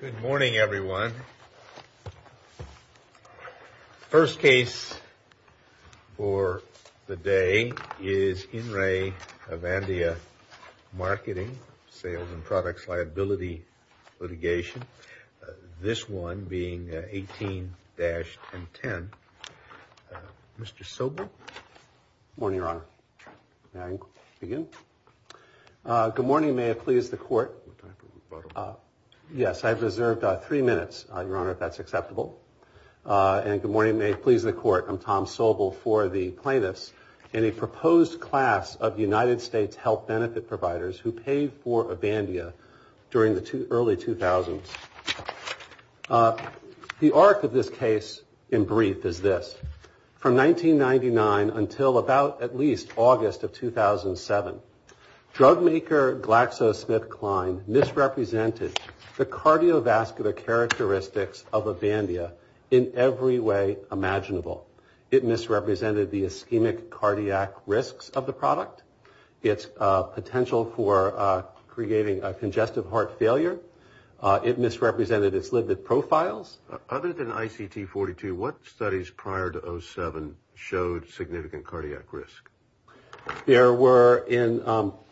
Good morning, everyone. First case for the day is In Re Avandia Marketing, Sales and Products Liability litigation. This one being 18-10. Mr. Sobel? Good morning, Your Honor. May I begin? Good morning. May it please the Court. Yes, I have reserved three minutes, Your Honor, if that's acceptable. And good morning. May it please the Court. I'm Tom Sobel for the plaintiffs. In a proposed class of United States health benefit providers who paid for Avandia during the early 2000s. The arc of this case in brief is this. From 1999 until about at least August of 2007, drug maker GlaxoSmithKline misrepresented the cardiovascular characteristics of Avandia in every way imaginable. It misrepresented the ischemic cardiac risks of the product, its potential for creating congestive heart failure. It misrepresented its limited profiles. Other than ICT-42, what studies prior to 2007 showed significant cardiac risk? There were,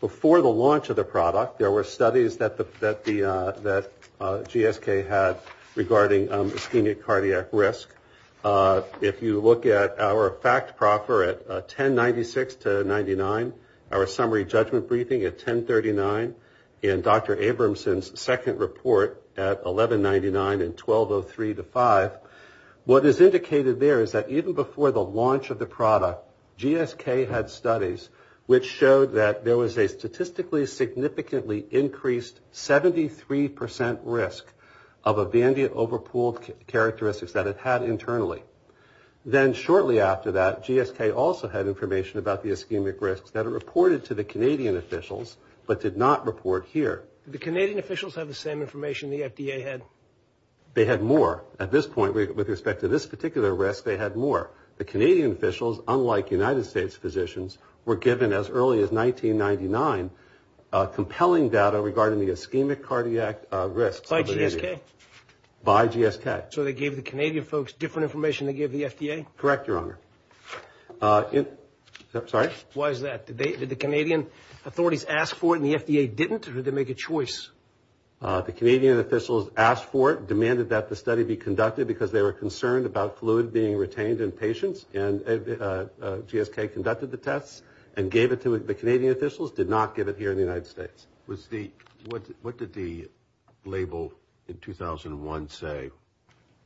before the launch of the product, there were studies that GSK had regarding ischemic cardiac risk. If you look at our fact proffer at 1096-99, our summary judgment briefing at 1039, and Dr. Abramson's second report at 1199 and 1203-5, what is indicated there is that even before the launch of the product, GSK had studies which showed that there was a statistically significantly increased 73% risk of Avandia overpooled characteristics that it had internally. Then shortly after that, GSK also had information about the ischemic risks that it reported to the Canadian officials, but did not report here. Did the Canadian officials have the same information the FDA had? They had more. At this point, with respect to this particular risk, they had more. The Canadian officials, unlike United States physicians, were given as early as 1999 compelling data regarding the ischemic cardiac risks of Avandia. By GSK? By GSK. So they gave the Canadian folks different information they gave the FDA? Correct, Your Honor. Sorry? Why is that? Did the Canadian authorities ask for it and the FDA didn't, or did they make a choice? The Canadian officials asked for it, demanded that the study be conducted because they were concerned about fluid being retained in patients, and GSK conducted the tests and gave it to the Canadian officials, did not give it here in the United States. What did the label in 2001 say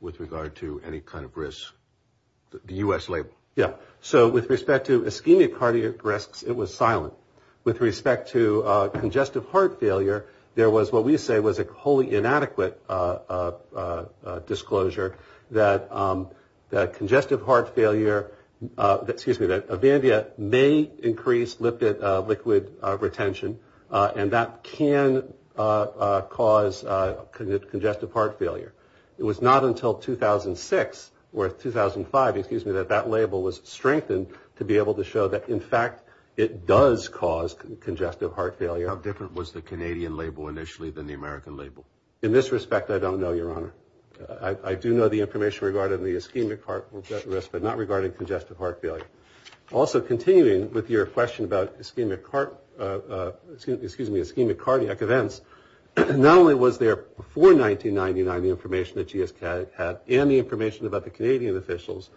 with regard to any kind of risk? The U.S. label? Yeah. So with respect to ischemic cardiac risks, it was silent. With respect to congestive heart failure, there was what we say was a wholly inadequate disclosure that congestive heart failure, excuse me, that Avandia may increase liquid retention, and that can cause congestive heart failure. It was not until 2006 or 2005, excuse me, that that label was strengthened to be able to show that, in fact, it does cause congestive heart failure. How different was the Canadian label initially than the American label? In this respect, I don't know, Your Honor. I do know the information regarding the ischemic heart risk, but not regarding congestive heart failure. Also, continuing with your question about ischemic heart, excuse me, ischemic cardiac events, not only was there before 1999 the information that GSK had and the information about the Canadian officials,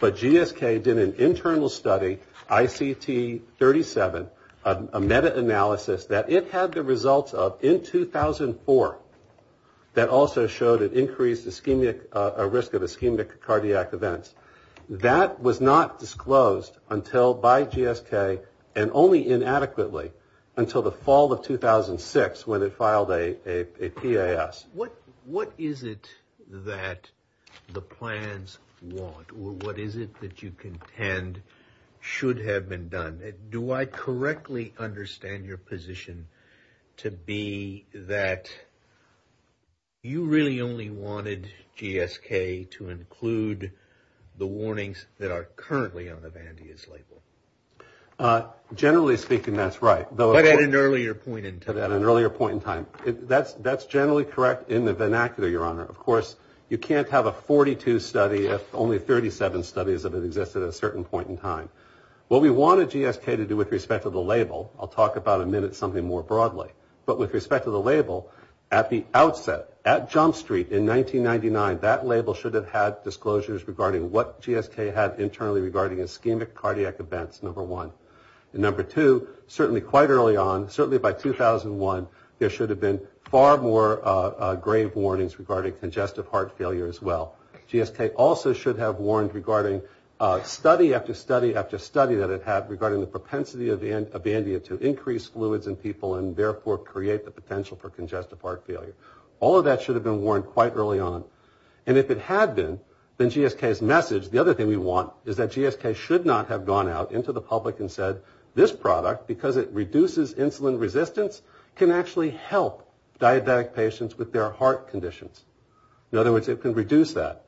but GSK did an internal study, ICT37, a meta-analysis that it had the results of in 2004 that also showed an increased ischemic, a risk of ischemic cardiac events. That was not disclosed until by GSK and only inadequately until the fall of 2006 when it filed a PAS. What is it that the plans want or what is it that you contend should have been done? Do I correctly understand your position to be that you really only wanted GSK to include the warnings that are currently on Avandia's label? Generally speaking, that's right. But at an earlier point in time. That's generally correct in the vernacular, Your Honor. Of course, you can't have a 42 study if only 37 studies have existed at a certain point in time. What we wanted GSK to do with respect to the label, I'll talk about in a minute something more broadly. But with respect to the label, at the outset, at Jump Street in 1999, that label should have had disclosures regarding what GSK had internally regarding ischemic cardiac events, number one. And number two, certainly quite early on, certainly by 2001, there should have been far more grave warnings regarding congestive heart failure as well. GSK also should have warned regarding study after study after study that it had regarding the propensity of Avandia to increase fluids in people and therefore create the potential for congestive heart failure. All of that should have been warned quite early on. And if it had been, then GSK's message, the other thing we want, is that GSK should not have gone out into the public and said, this product, because it reduces insulin resistance, can actually help diabetic patients with their heart conditions. In other words, it can reduce that.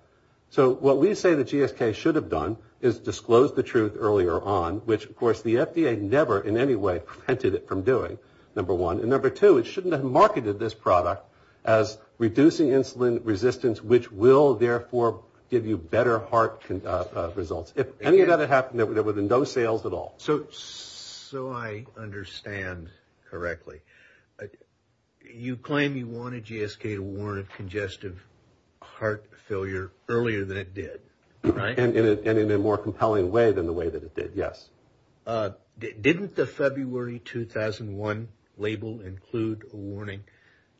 So what we say that GSK should have done is disclose the truth earlier on, which, of course, the FDA never in any way prevented it from doing, number one. And number two, it shouldn't have marketed this product as reducing insulin resistance, which will, therefore, give you better heart results. If any of that had happened, there would have been no sales at all. So I understand correctly. You claim you wanted GSK to warn of congestive heart failure earlier than it did, right? And in a more compelling way than the way that it did, yes. Didn't the February 2001 label include a warning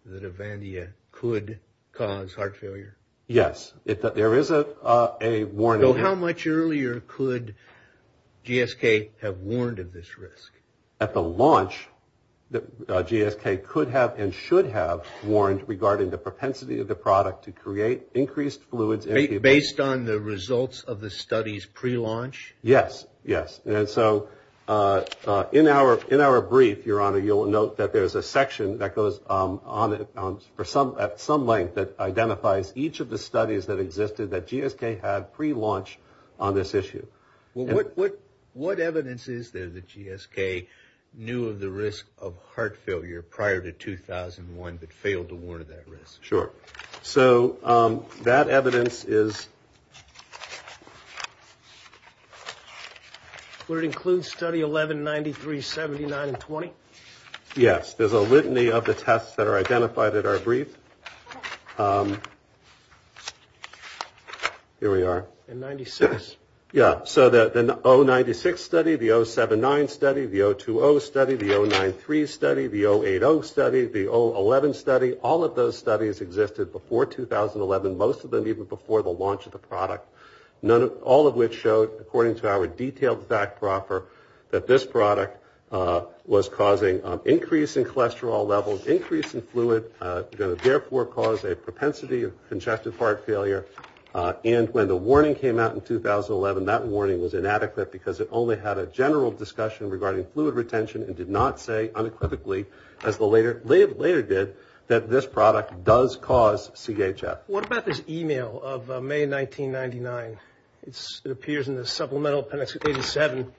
that Avandia could cause heart failure? Yes. There is a warning. So how much earlier could GSK have warned of this risk? At the launch, GSK could have and should have warned regarding the propensity of the product to create increased fluids in people. Based on the results of the studies prelaunch? Yes, yes. And so in our brief, Your Honor, you'll note that there's a section that goes on at some length that identifies each of the studies that existed that GSK had prelaunch on this issue. What evidence is there that GSK knew of the risk of heart failure prior to 2001 but failed to warn of that risk? Sure. So that evidence is? Would it include study 1193, 79, and 20? Yes. There's a litany of the tests that are identified in our brief. Here we are. And 96? Yeah. So the 096 study, the 079 study, the 020 study, the 093 study, the 080 study, the 011 study, all of those studies existed before 2011, most of them even before the launch of the product, all of which showed, according to our detailed fact proffer, that this product was causing increase in cholesterol levels, increase in fluid, going to therefore cause a propensity of congestive heart failure. And when the warning came out in 2011, that warning was inadequate because it only had a general discussion regarding fluid retention and did not say unequivocally, as the later did, that this product does cause CHF. What about this e-mail of May 1999? It appears in the supplemental appendix 87.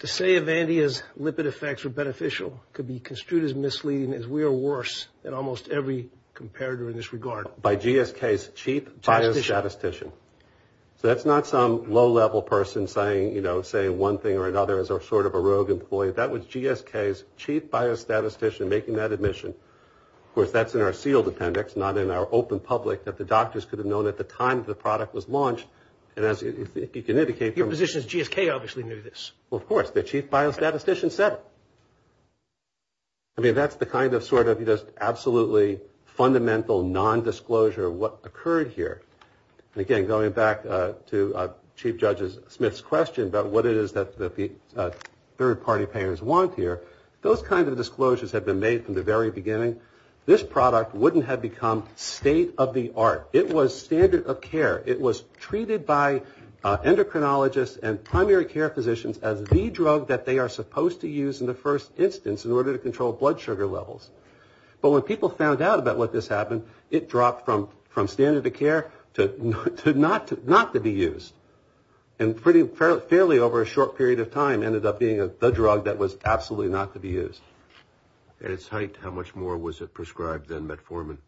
To say Evandia's lipid effects were beneficial could be construed as misleading as we are worse than almost every comparator in this regard. By GSK's chief biostatistician. So that's not some low-level person saying, you know, say one thing or another as a sort of a rogue employee. That was GSK's chief biostatistician making that admission. Of course, that's in our sealed appendix, not in our open public, that the doctors could have known at the time the product was launched. And as you can indicate from the- Your position is GSK obviously knew this. Well, of course. The chief biostatistician said it. I mean, that's the kind of sort of just absolutely fundamental nondisclosure of what occurred here. And again, going back to Chief Judge Smith's question about what it is that the third-party payers want here, those kind of disclosures have been made from the very beginning. This product wouldn't have become state-of-the-art. It was standard of care. It was treated by endocrinologists and primary care physicians as the drug that they are supposed to use in the first instance in order to control blood sugar levels. But when people found out about what just happened, it dropped from standard of care to not to be used, and fairly over a short period of time ended up being the drug that was absolutely not to be used. At its height, how much more was it prescribed than metformin?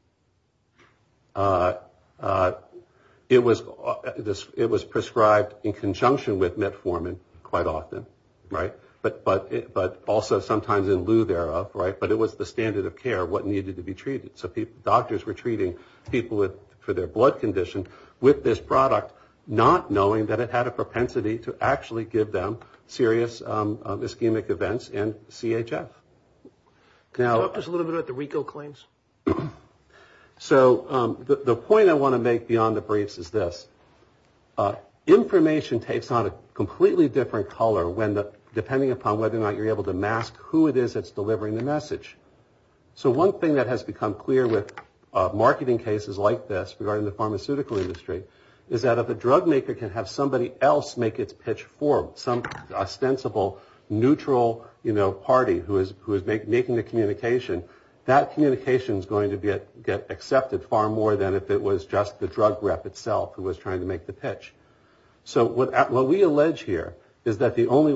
It was prescribed in conjunction with metformin quite often, right? But also sometimes in lieu thereof, right? But it was the standard of care, what needed to be treated. So doctors were treating people for their blood condition with this product, not knowing that it had a propensity to actually give them serious ischemic events and CHF. Talk to us a little bit about the RICO claims. So the point I want to make beyond the briefs is this. Information takes on a completely different color depending upon whether or not you're able to mask who it is that's delivering the message. So one thing that has become clear with marketing cases like this regarding the pharmaceutical industry is that if a drug maker can have somebody else make its pitch for some ostensible neutral party who is making the communication, that communication is going to get accepted far more than if it was just the drug rep itself who was trying to make the pitch. So what we allege here is that the only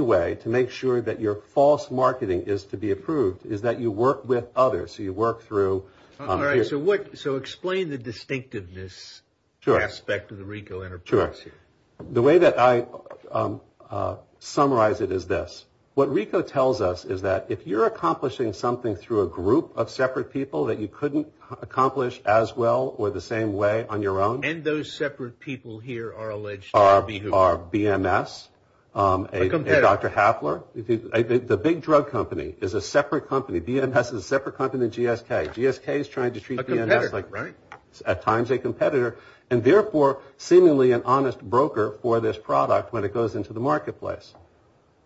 way to make sure that your false marketing is to be approved is that you work with others, so you work through. All right. So explain the distinctiveness aspect of the RICO enterprise. Sure. The way that I summarize it is this. What RICO tells us is that if you're accomplishing something through a group of separate people that you couldn't accomplish as well or the same way on your own. And those separate people here are alleged to be who? Are BMS. A competitor. Dr. Hafler. The big drug company is a separate company. BMS is a separate company than GSK. GSK is trying to treat BMS like at times a competitor and therefore seemingly an honest broker for this product when it goes into the marketplace.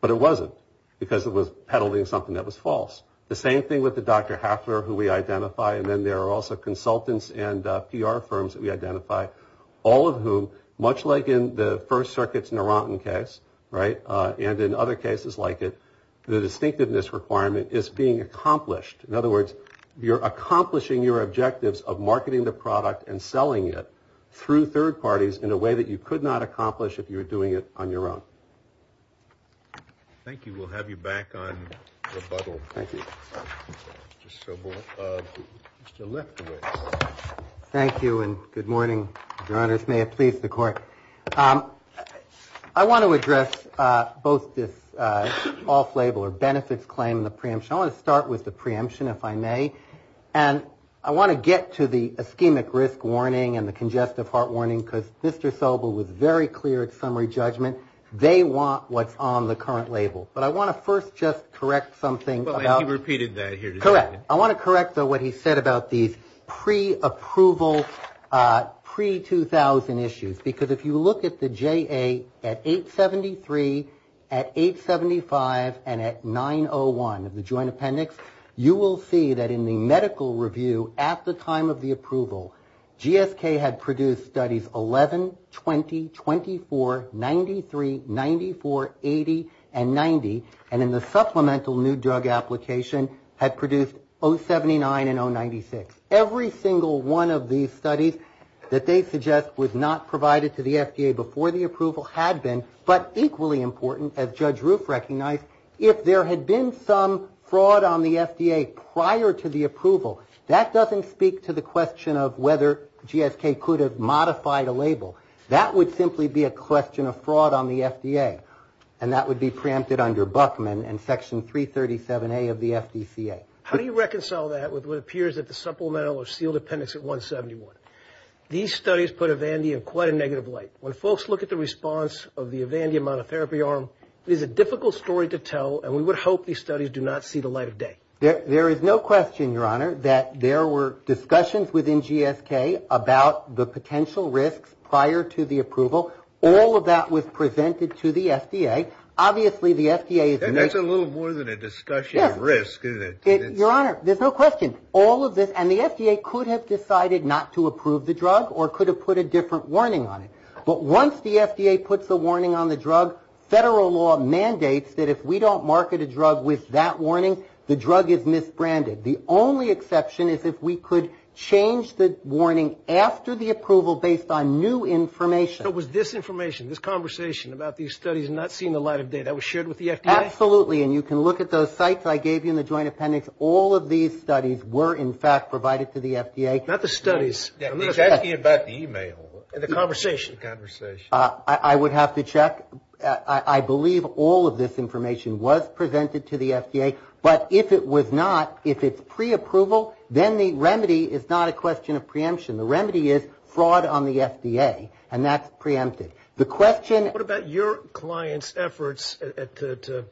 But it wasn't because it was peddling something that was false. The same thing with the Dr. Hafler who we identify and then there are also consultants and PR firms that we identify, all of whom, much like in the First Circuit's Narantan case, right, and in other cases like it, the distinctiveness requirement is being accomplished. In other words, you're accomplishing your objectives of marketing the product and selling it through third parties in a way that you could not accomplish if you were doing it on your own. Thank you. We'll have you back on rebuttal. Thank you. Thank you and good morning, Your Honors. May it please the Court. I want to address both this off-label or benefits claim and the preemption. I want to start with the preemption, if I may, and I want to get to the ischemic risk warning and the congestive heart warning because Mr. Sobel was very clear at summary judgment. They want what's on the current label. But I want to first just correct something. He repeated that here. Correct. I want to correct, though, what he said about these pre-approval, pre-2000 issues because if you look at the JA at 873, at 875, and at 901 of the Joint Appendix, you will see that in the medical review at the time of the approval, GSK had produced studies 11, 20, 24, 93, 94, 80, and 90, and in the supplemental new drug application had produced 079 and 096. Every single one of these studies that they suggest was not provided to the FDA before the approval had been, but equally important, as Judge Roof recognized, if there had been some fraud on the FDA prior to the approval, that doesn't speak to the question of whether GSK could have modified a label. That would simply be a question of fraud on the FDA, and that would be preempted under Buckman and Section 337A of the FDCA. How do you reconcile that with what appears at the supplemental or sealed appendix at 171? These studies put Avandia in quite a negative light. When folks look at the response of the Avandia monotherapy arm, it is a difficult story to tell, and we would hope these studies do not see the light of day. There is no question, Your Honor, that there were discussions within GSK about the potential risks prior to the approval. All of that was presented to the FDA. Obviously, the FDA is going to... That's a little more than a discussion of risk. Your Honor, there's no question. All of this, and the FDA could have decided not to approve the drug or could have put a different warning on it, but once the FDA puts a warning on the drug, federal law mandates that if we don't market a drug with that warning, the drug is misbranded. The only exception is if we could change the warning after the approval based on new information. So it was this information, this conversation about these studies not seeing the light of day, that was shared with the FDA? Absolutely, and you can look at those sites I gave you in the joint appendix. All of these studies were, in fact, provided to the FDA. Not the studies. I'm asking you about the e-mail and the conversation. I would have to check. I believe all of this information was presented to the FDA, but if it was not, if it's preapproval, then the remedy is not a question of preemption. The remedy is fraud on the FDA, and that's preempted. The question... What about your client's efforts to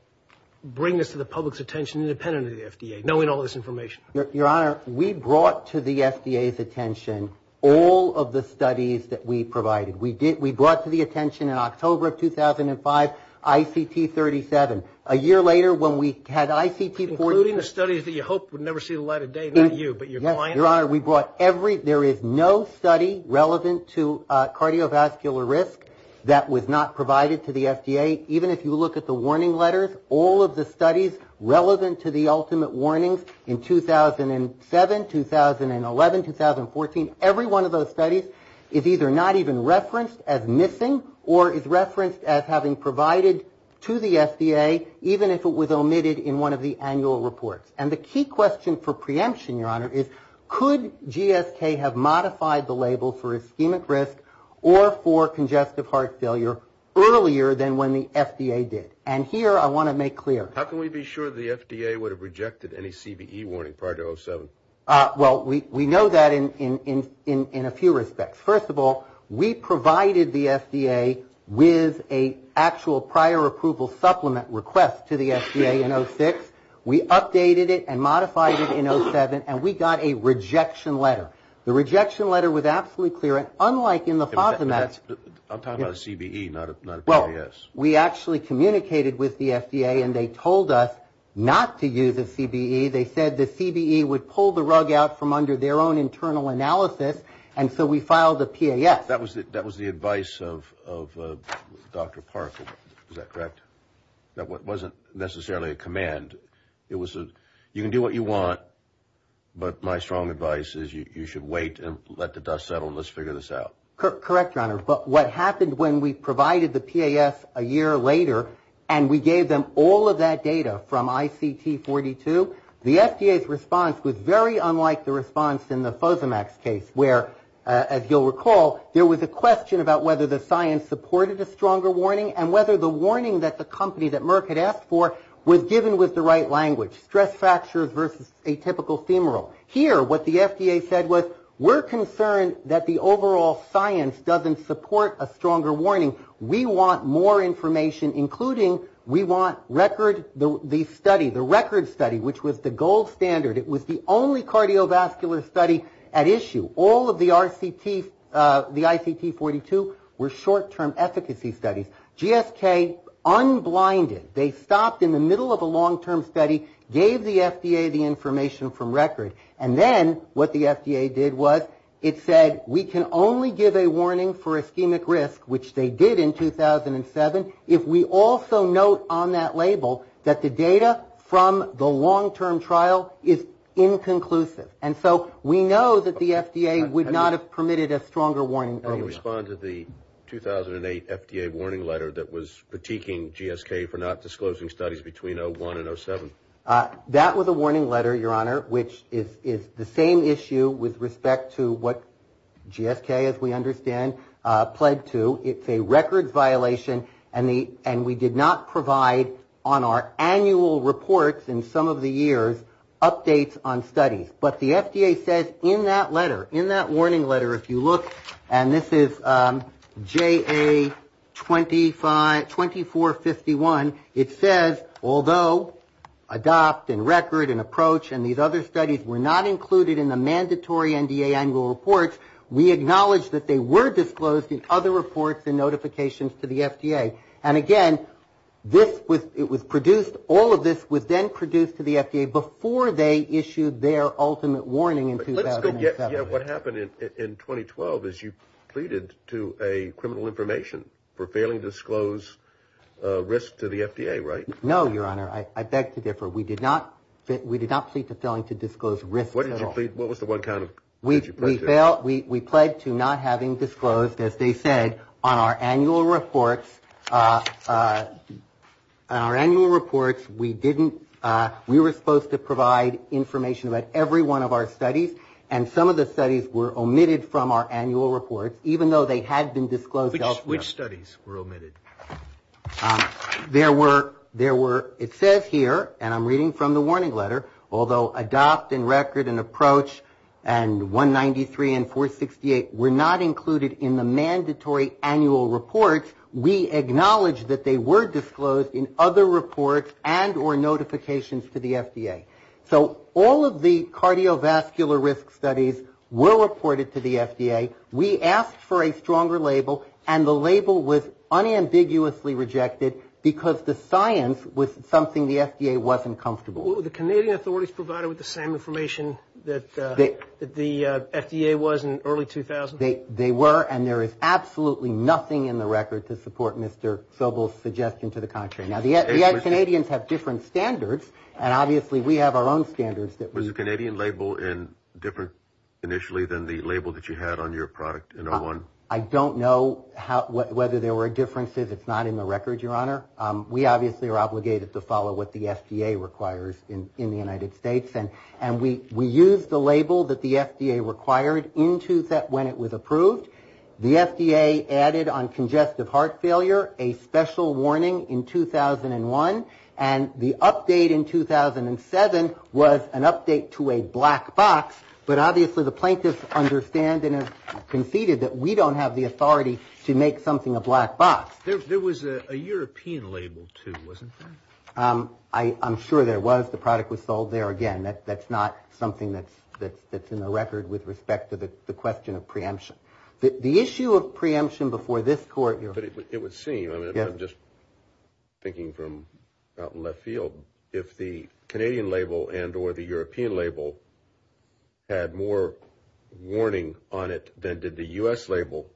bring this to the public's attention independent of the FDA, knowing all this information? Your Honor, we brought to the FDA's attention all of the studies that we provided. We brought to the attention in October of 2005, ICT37. A year later, when we had ICT40... Including the studies that you hoped would never see the light of day? Not you, but your client? Your Honor, we brought every... There is no study relevant to cardiovascular risk that was not provided to the FDA. Even if you look at the warning letters, all of the studies relevant to the ultimate warnings in 2007, 2011, 2014, every one of those studies is either not even referenced as missing or is referenced as having provided to the FDA even if it was omitted in one of the annual reports. And the key question for preemption, your Honor, is could GSK have modified the label for ischemic risk or for congestive heart failure earlier than when the FDA did? And here I want to make clear... How can we be sure the FDA would have rejected any CVE warning prior to 2007? Well, we know that in a few respects. First of all, we provided the FDA with an actual prior approval supplement request to the FDA in 2006. We updated it and modified it in 2007, and we got a rejection letter. The rejection letter was absolutely clear, and unlike in the FOSMAX... I'm talking about a CVE, not a PAS. Well, we actually communicated with the FDA, and they told us not to use a CVE. They said the CVE would pull the rug out from under their own internal analysis, and so we filed a PAS. That was the advice of Dr. Park. Is that correct? That wasn't necessarily a command. It was a, you can do what you want, but my strong advice is you should wait and let the dust settle and let's figure this out. Correct, Your Honor. But what happened when we provided the PAS a year later, and we gave them all of that data from ICT42, the FDA's response was very unlike the response in the FOSMAX case where, as you'll recall, there was a question about whether the science supported a stronger warning and whether the warning that the company that Merck had asked for was given with the right language, stress fractures versus atypical femoral. Here, what the FDA said was we're concerned that the overall science doesn't support a stronger warning. We want more information, including we want record, the study, the record study, which was the gold standard. It was the only cardiovascular study at issue. All of the RCTs, the ICT42, were short-term efficacy studies. GSK unblinded. They stopped in the middle of a long-term study, gave the FDA the information from record, and then what the FDA did was it said we can only give a warning for ischemic risk, which they did in 2007, if we also note on that label that the data from the long-term trial is inconclusive. And so we know that the FDA would not have permitted a stronger warning. Can you respond to the 2008 FDA warning letter that was critiquing GSK for not disclosing studies between 01 and 07? That was a warning letter, Your Honor, which is the same issue with respect to what GSK, as we understand, pled to. It's a records violation, and we did not provide on our annual reports in some of the years updates on studies. But the FDA says in that letter, in that warning letter, if you look, and this is JA2451, it says although adopt and record and approach and these other studies were not included in the mandatory NDA annual reports, we acknowledge that they were disclosed in other reports and notifications to the FDA. And again, this was produced, all of this was then produced to the FDA before they issued their ultimate warning in 2007. Yeah, what happened in 2012 is you pleaded to a criminal information for failing to disclose risk to the FDA, right? No, Your Honor. I beg to differ. We did not plead to failing to disclose risk at all. What was the one kind of thing you pleaded to? We pled to not having disclosed, as they said, on our annual reports. On our annual reports, we didn't, we were supposed to provide information about every one of our studies, and some of the studies were omitted from our annual reports, even though they had been disclosed elsewhere. Which studies were omitted? There were, there were, it says here, and I'm reading from the warning letter, although adopt and record and approach and 193 and 468 were not included in the mandatory annual reports, we acknowledge that they were disclosed in other reports and or notifications to the FDA. So all of the cardiovascular risk studies were reported to the FDA. We asked for a stronger label, and the label was unambiguously rejected, because the science was something the FDA wasn't comfortable with. Were the Canadian authorities provided with the same information that the FDA was in early 2000? They were, and there is absolutely nothing in the record to support Mr. Sobel's suggestion to the contrary. Now, the Canadians have different standards, and obviously we have our own standards that we Was the Canadian label different initially than the label that you had on your product in 01? I don't know whether there were differences. It's not in the record, Your Honor. We obviously are obligated to follow what the FDA requires in the United States, and we used the label that the FDA required when it was approved. The FDA added on congestive heart failure a special warning in 2001, and the update in 2007 was an update to a black box, but obviously the plaintiffs understand and conceded that we don't have the authority to make something a black box. There was a European label, too, wasn't there? I'm sure there was. The product was sold there. Again, that's not something that's in the record with respect to the question of preemption. The issue of preemption before this court, Your Honor. But it would seem, I'm just thinking from out in left field, if the Canadian label and or the European label had more warning on it than did the U.S. label,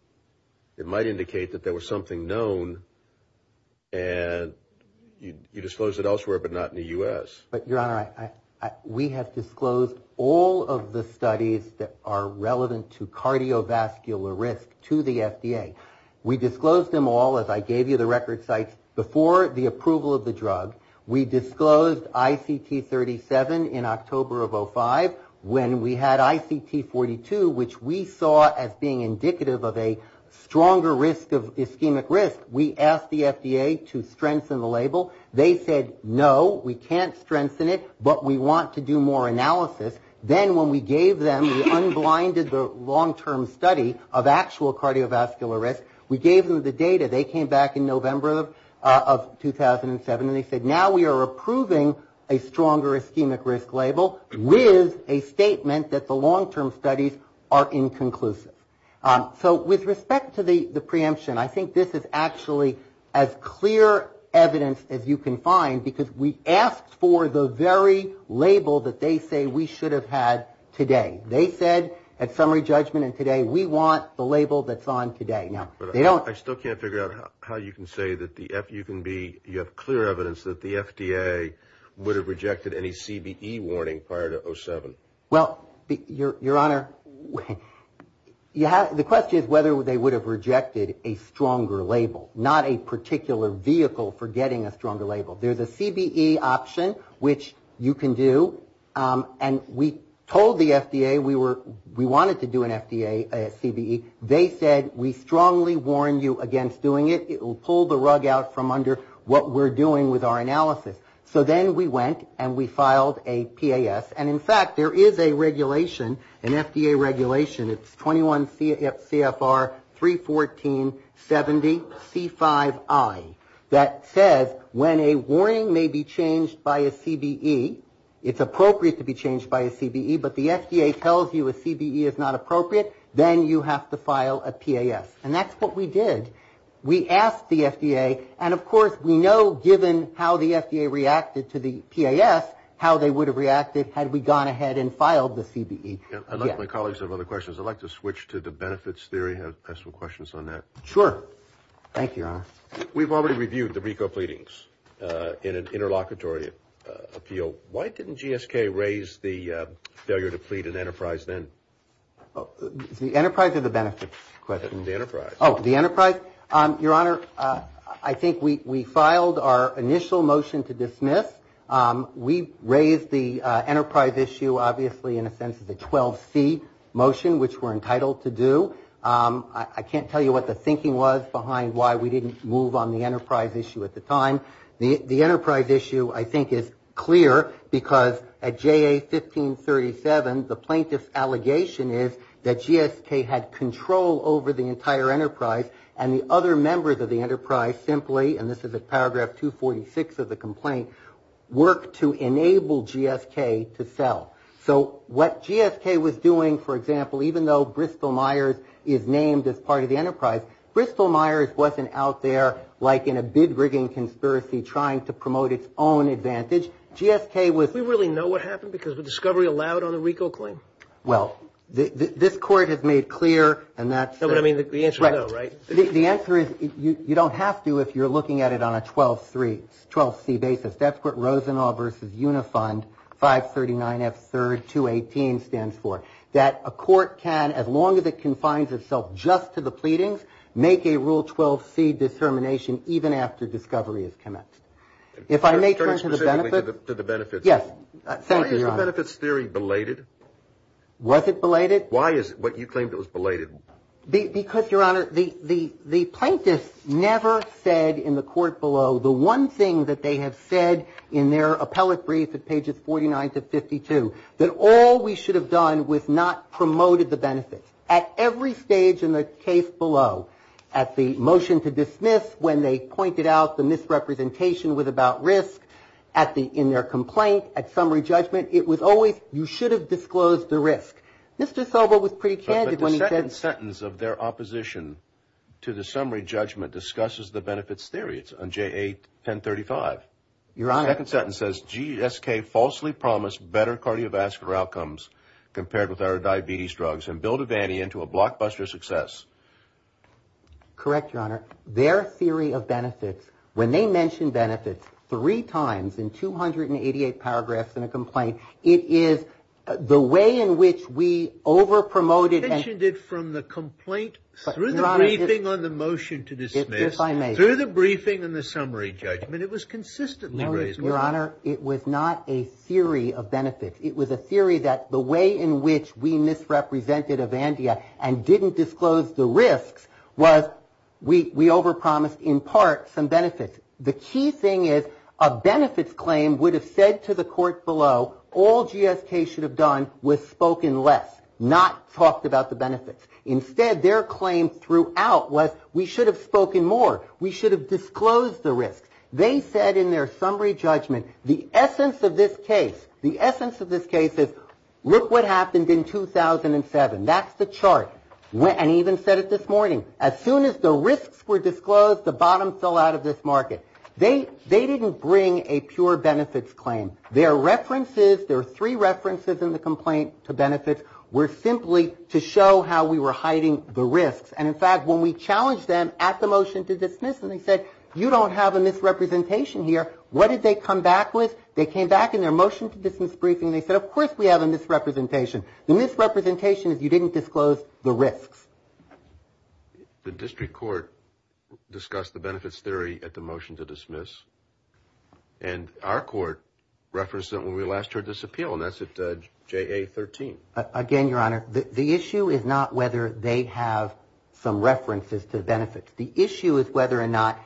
it might indicate that there was something known, and you disclose it elsewhere but not in the U.S. But, Your Honor, we have disclosed all of the studies that are relevant to cardiovascular risk to the FDA. We disclosed them all, as I gave you the record sites, before the approval of the drug. We disclosed ICT 37 in October of 2005 when we had ICT 42, which we saw as being indicative of a stronger risk of ischemic risk. We asked the FDA to strengthen the label. They said, no, we can't strengthen it, but we want to do more analysis. Then when we gave them the unblinded long-term study of actual cardiovascular risk, we gave them the data. They came back in November of 2007, and they said, now we are approving a stronger ischemic risk label with a statement that the long-term studies are inconclusive. So with respect to the preemption, I think this is actually as clear evidence as you can find, because we asked for the very label that they say we should have had today. They said at summary judgment and today, we want the label that's on today. Now, they don't I still can't figure out how you can say that you have clear evidence that the FDA would have rejected any CBE warning prior to 07. Well, Your Honor, the question is whether they would have rejected a stronger label, not a particular vehicle for getting a stronger label. There's a CBE option, which you can do, and we told the FDA we wanted to do an FDA CBE. They said, we strongly warn you against doing it. It will pull the rug out from under what we're doing with our analysis. So then we went and we filed a PAS, and in fact, there is a regulation, an FDA regulation, it's 21 CFR 31470C5I, that says when a warning may be changed by a CBE, it's appropriate to be changed by a CBE, but the FDA tells you a CBE is not appropriate, then you have to file a PAS, and that's what we did. We asked the FDA, and of course, we know given how the FDA reacted to the PAS, how they would have reacted had we gone ahead and filed the CBE. I'd like my colleagues to have other questions. I'd like to switch to the benefits theory and ask some questions on that. Sure. Thank you, Your Honor. We've already reviewed the RICO pleadings in an interlocutory appeal. Why didn't GSK raise the failure to plead in Enterprise then? The Enterprise or the benefits question? The Enterprise. Oh, the Enterprise. Your Honor, I think we filed our initial motion to dismiss. We raised the Enterprise issue, obviously, in a sense as a 12C motion, which we're entitled to do. I can't tell you what the thinking was behind why we didn't move on the Enterprise issue at the time. The Enterprise issue, I think, is clear because at JA 1537, the plaintiff's allegation is that GSK had control over the entire Enterprise and the other members of the Enterprise simply, and this is at paragraph 246 of the complaint, worked to enable GSK to sell. So what GSK was doing, for example, even though Bristol-Myers is named as part of the Enterprise, Bristol-Myers wasn't out there like in a bid-rigging conspiracy trying to promote its own advantage. GSK was... Well, this Court has made clear, and that's... But, I mean, the answer is no, right? The answer is you don't have to if you're looking at it on a 12C basis. That's what Rosenau versus Unifund 539F3218 stands for, that a court can, as long as it confines itself just to the pleadings, make a Rule 12C determination even after discovery is commenced. If I may turn to the benefits... Turn specifically to the benefits. Yes. Senator, Your Honor. Was the benefits theory belated? Was it belated? Why is it what you claimed it was belated? Because, Your Honor, the plaintiffs never said in the Court below, the one thing that they have said in their appellate brief at pages 49 to 52, that all we should have done was not promoted the benefits. At every stage in the case below, at the motion to dismiss, when they pointed out the misrepresentation was about risk in their complaint, at summary judgment, it was always, you should have disclosed the risk. Mr. Sobo was pretty candid when he said... But the second sentence of their opposition to the summary judgment discusses the benefits theory. It's on JA 1035. Your Honor. The second sentence says, GSK falsely promised better cardiovascular outcomes compared with our diabetes drugs and built a vani into a blockbuster success. Correct, Your Honor. Their theory of benefits, when they mentioned benefits three times in 288 paragraphs in a complaint, it is the way in which we overpromoted... You mentioned it from the complaint through the briefing on the motion to dismiss. Yes, I may. Through the briefing and the summary judgment. It was consistently raised. Your Honor, it was not a theory of benefits. It was a theory that the way in which we misrepresented a vani we overpromised, in part, some benefits. The key thing is, a benefits claim would have said to the court below, all GSK should have done was spoken less, not talked about the benefits. Instead, their claim throughout was, we should have spoken more. We should have disclosed the risk. They said in their summary judgment, the essence of this case, the essence of this case is, look what happened in 2007. That's the chart. And he even said it this morning. As soon as the risks were disclosed, the bottom fell out of this market. They didn't bring a pure benefits claim. Their references, there were three references in the complaint to benefits, were simply to show how we were hiding the risks. And, in fact, when we challenged them at the motion to dismiss and they said, you don't have a misrepresentation here, what did they come back with? They came back in their motion to dismiss briefing and they said, of course we have a misrepresentation. The misrepresentation is you didn't disclose the risks. The district court discussed the benefits theory at the motion to dismiss and our court referenced it when we last heard this appeal and that's at JA 13. Again, Your Honor, the issue is not whether they have some references to benefits. The issue is whether or not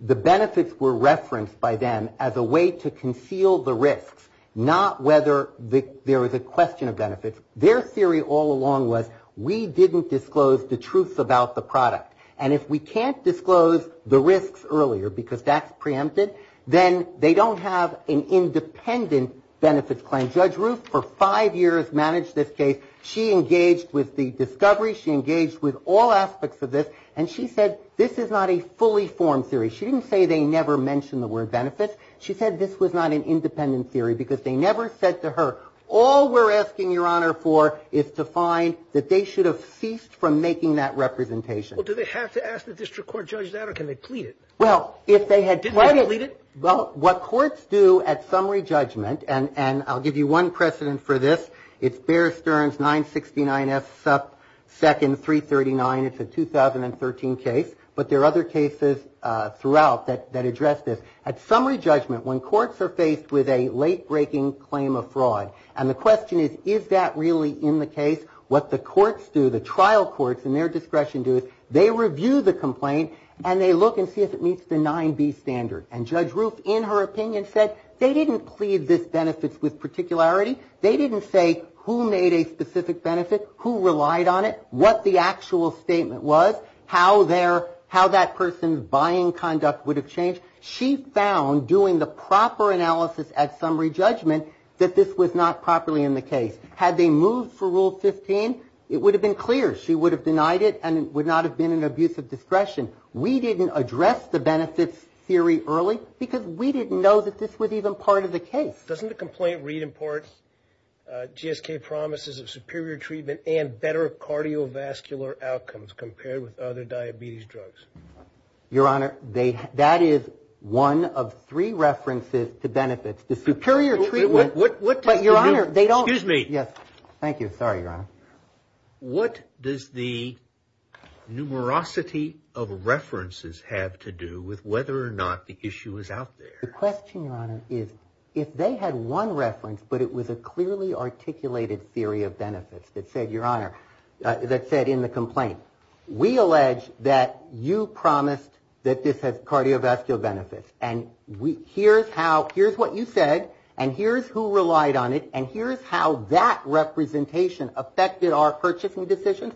the benefits were referenced by them as a way to conceal the risks, not whether there was a question of benefits. Their theory all along was we didn't disclose the truths about the product. And if we can't disclose the risks earlier because that's preempted, then they don't have an independent benefits claim. Judge Ruth for five years managed this case. She engaged with the discovery. She engaged with all aspects of this and she said this is not a fully formed theory. She didn't say they never mentioned the word benefits. She said this was not an independent theory because they never said to her all we're asking, Your Honor, for is to find that they should have ceased from making that representation. Well, do they have to ask the district court judge that or can they plead it? Well, if they had. Didn't they plead it? Well, what courts do at summary judgment, and I'll give you one precedent for this, it's Bear Stearns 969F second 339, it's a 2013 case, but there are other cases throughout that address this. At summary judgment, when courts are faced with a late-breaking claim of fraud, and the question is is that really in the case, what the courts do, the trial courts in their discretion do is they review the complaint and they look and see if it meets the 9B standard. And Judge Ruth, in her opinion, said they didn't plead this benefits with particularity. They didn't say who made a specific benefit, who relied on it, what the actual statement was, how that person's buying conduct would have changed. She found, doing the proper analysis at summary judgment, that this was not properly in the case. Had they moved for Rule 15, it would have been clear. She would have denied it and it would not have been an abuse of discretion. We didn't address the benefits theory early because we didn't know that this was even part of the case. Doesn't the complaint reimport GSK promises of superior treatment and better cardiovascular outcomes compared with other diabetes drugs? Your Honor, that is one of three references to benefits. The superior treatment, but Your Honor, they don't. Excuse me. Yes. Thank you. Sorry, Your Honor. What does the numerosity of references have to do with whether or not the issue is out there? The question, Your Honor, is if they had one reference, but it was a clearly articulated theory of benefits that said, Your Honor, that said in the complaint, we allege that you promised that this has cardiovascular benefits. And here's how, here's what you said, and here's who relied on it, and here's how that representation affected our purchasing decisions.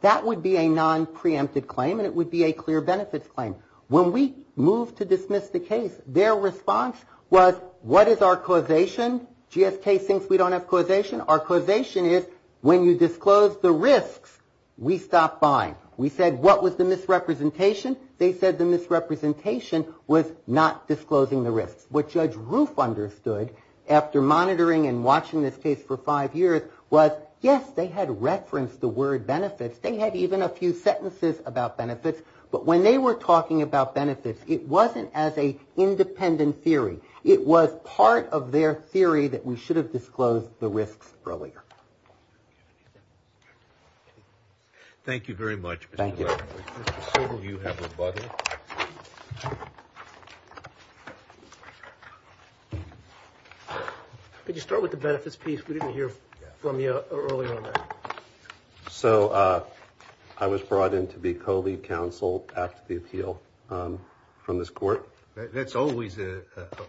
That would be a non-preemptive claim and it would be a clear benefits claim. When we moved to dismiss the case, their response was, what is our causation? GSK thinks we don't have causation. Our causation is when you disclose the risks, we stop buying. We said, what was the misrepresentation? They said the misrepresentation was not disclosing the risks. What Judge Roof understood after monitoring and watching this case for five years was, yes, they had referenced the word benefits. They had even a few sentences about benefits. But when they were talking about benefits, it wasn't as an independent theory. It was part of their theory that we should have disclosed the risks earlier. Thank you very much, Mr. Levine. Thank you. Mr. Silver, you have rebuttal. Could you start with the benefits piece? We didn't hear from you earlier on that. So I was brought in to be co-lead counsel after the appeal from this court. That's always a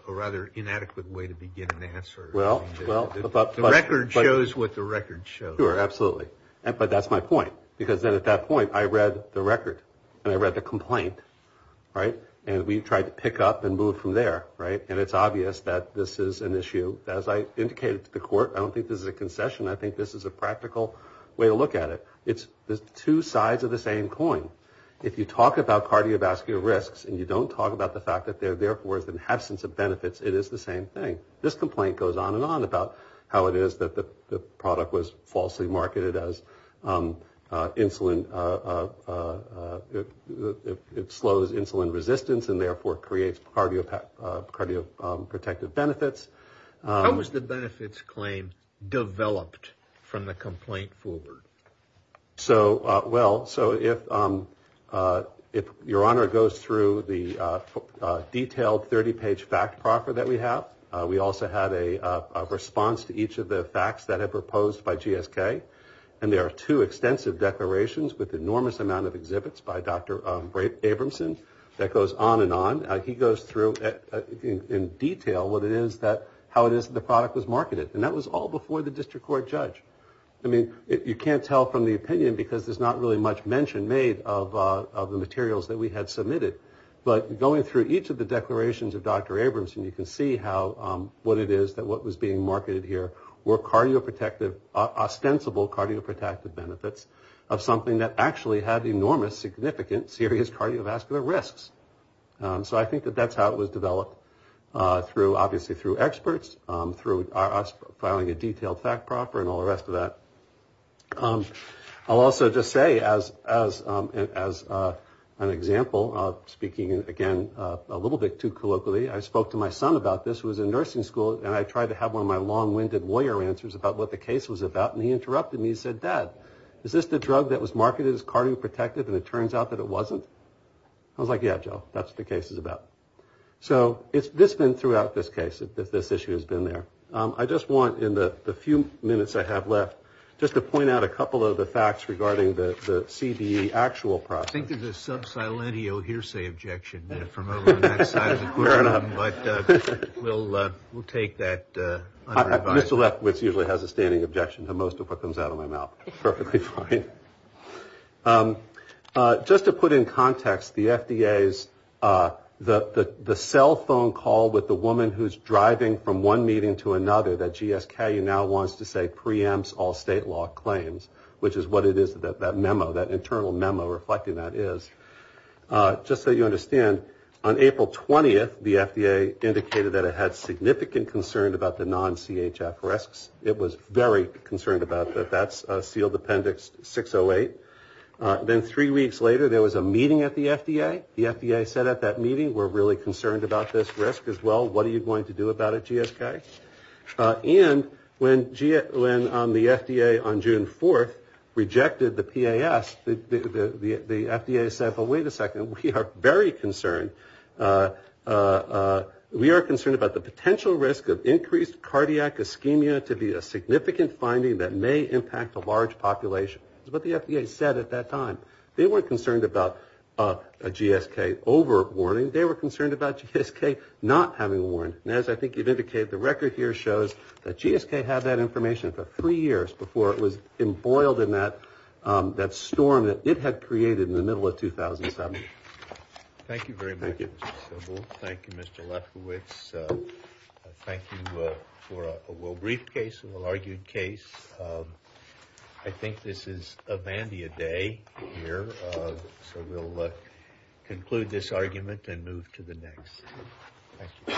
rather inadequate way to begin an answer. The record shows what the record shows. Sure, absolutely. But that's my point. Because then at that point, I read the record and I read the complaint, right? And we tried to pick up and move from there, right? And it's obvious that this is an issue. As I indicated to the court, I don't think this is a concession. I think this is a practical way to look at it. It's two sides of the same coin. If you talk about cardiovascular risks and you don't talk about the fact that they're therefore in the absence of benefits, it is the same thing. This complaint goes on and on about how it is that the product was falsely marketed as insulin. It slows insulin resistance and therefore creates cardioprotective benefits. How was the benefits claim developed from the complaint forward? Well, so if Your Honor goes through the detailed 30-page fact proffer that we have, we also had a response to each of the facts that have proposed by GSK. And there are two extensive declarations with enormous amount of exhibits by Dr. Abramson that goes on and on. He goes through in detail how it is that the product was marketed. And that was all before the district court judge. I mean, you can't tell from the opinion because there's not really much mention made of the materials that we had submitted. But going through each of the declarations of Dr. Abramson, you can see what it is that was being marketed here were ostensible cardioprotective benefits of something that actually had enormous, significant, serious cardiovascular risks. So I think that that's how it was developed, obviously through experts, through us filing a detailed fact proffer and all the rest of that. I'll also just say as an example, speaking again a little bit too colloquially, I spoke to my son about this who was in nursing school and I tried to have one of my long-winded lawyer answers about what the case was about and he interrupted me and said, Dad, is this the drug that was marketed as cardioprotective and it turns out that it wasn't? I was like, yeah, Joe, that's what the case is about. So it's been throughout this case that this issue has been there. I just want in the few minutes I have left just to point out a couple of the facts regarding the CDE actual process. I think there's a sub silentio hearsay objection from over on that side of the podium. Fair enough. But we'll take that. Mr. Lefkowitz usually has a standing objection to most of what comes out of my mouth. Perfectly fine. Just to put in context, the FDA's, the cell phone call with the woman who's driving from one meeting to another that GSKU now wants to say preempts all state law claims, which is what it is, that memo, that internal memo reflecting that is. Just so you understand, on April 20th, the FDA indicated that it had significant concern about the non-CHF risks. It was very concerned about that. That's sealed appendix 608. Then three weeks later, there was a meeting at the FDA. The FDA said at that meeting, we're really concerned about this risk as well. What are you going to do about it, GSK? And when the FDA on June 4th rejected the PAS, the FDA said, well, wait a second. We are very concerned. We are concerned about the potential risk of increased cardiac ischemia to be a significant finding that may impact a large population. That's what the FDA said at that time. They weren't concerned about a GSK over warning. They were concerned about GSK not having a warning. And as I think you've indicated, the record here shows that GSK had that information for three years before it was embroiled in that storm that it had created in the middle of 2007. Thank you very much, Mr. Sybil. Thank you, Mr. Lefkowitz. Thank you for a well-briefed case, a well-argued case. I think this is a Vandia day here, so we'll conclude this argument and move to the next. Thank you.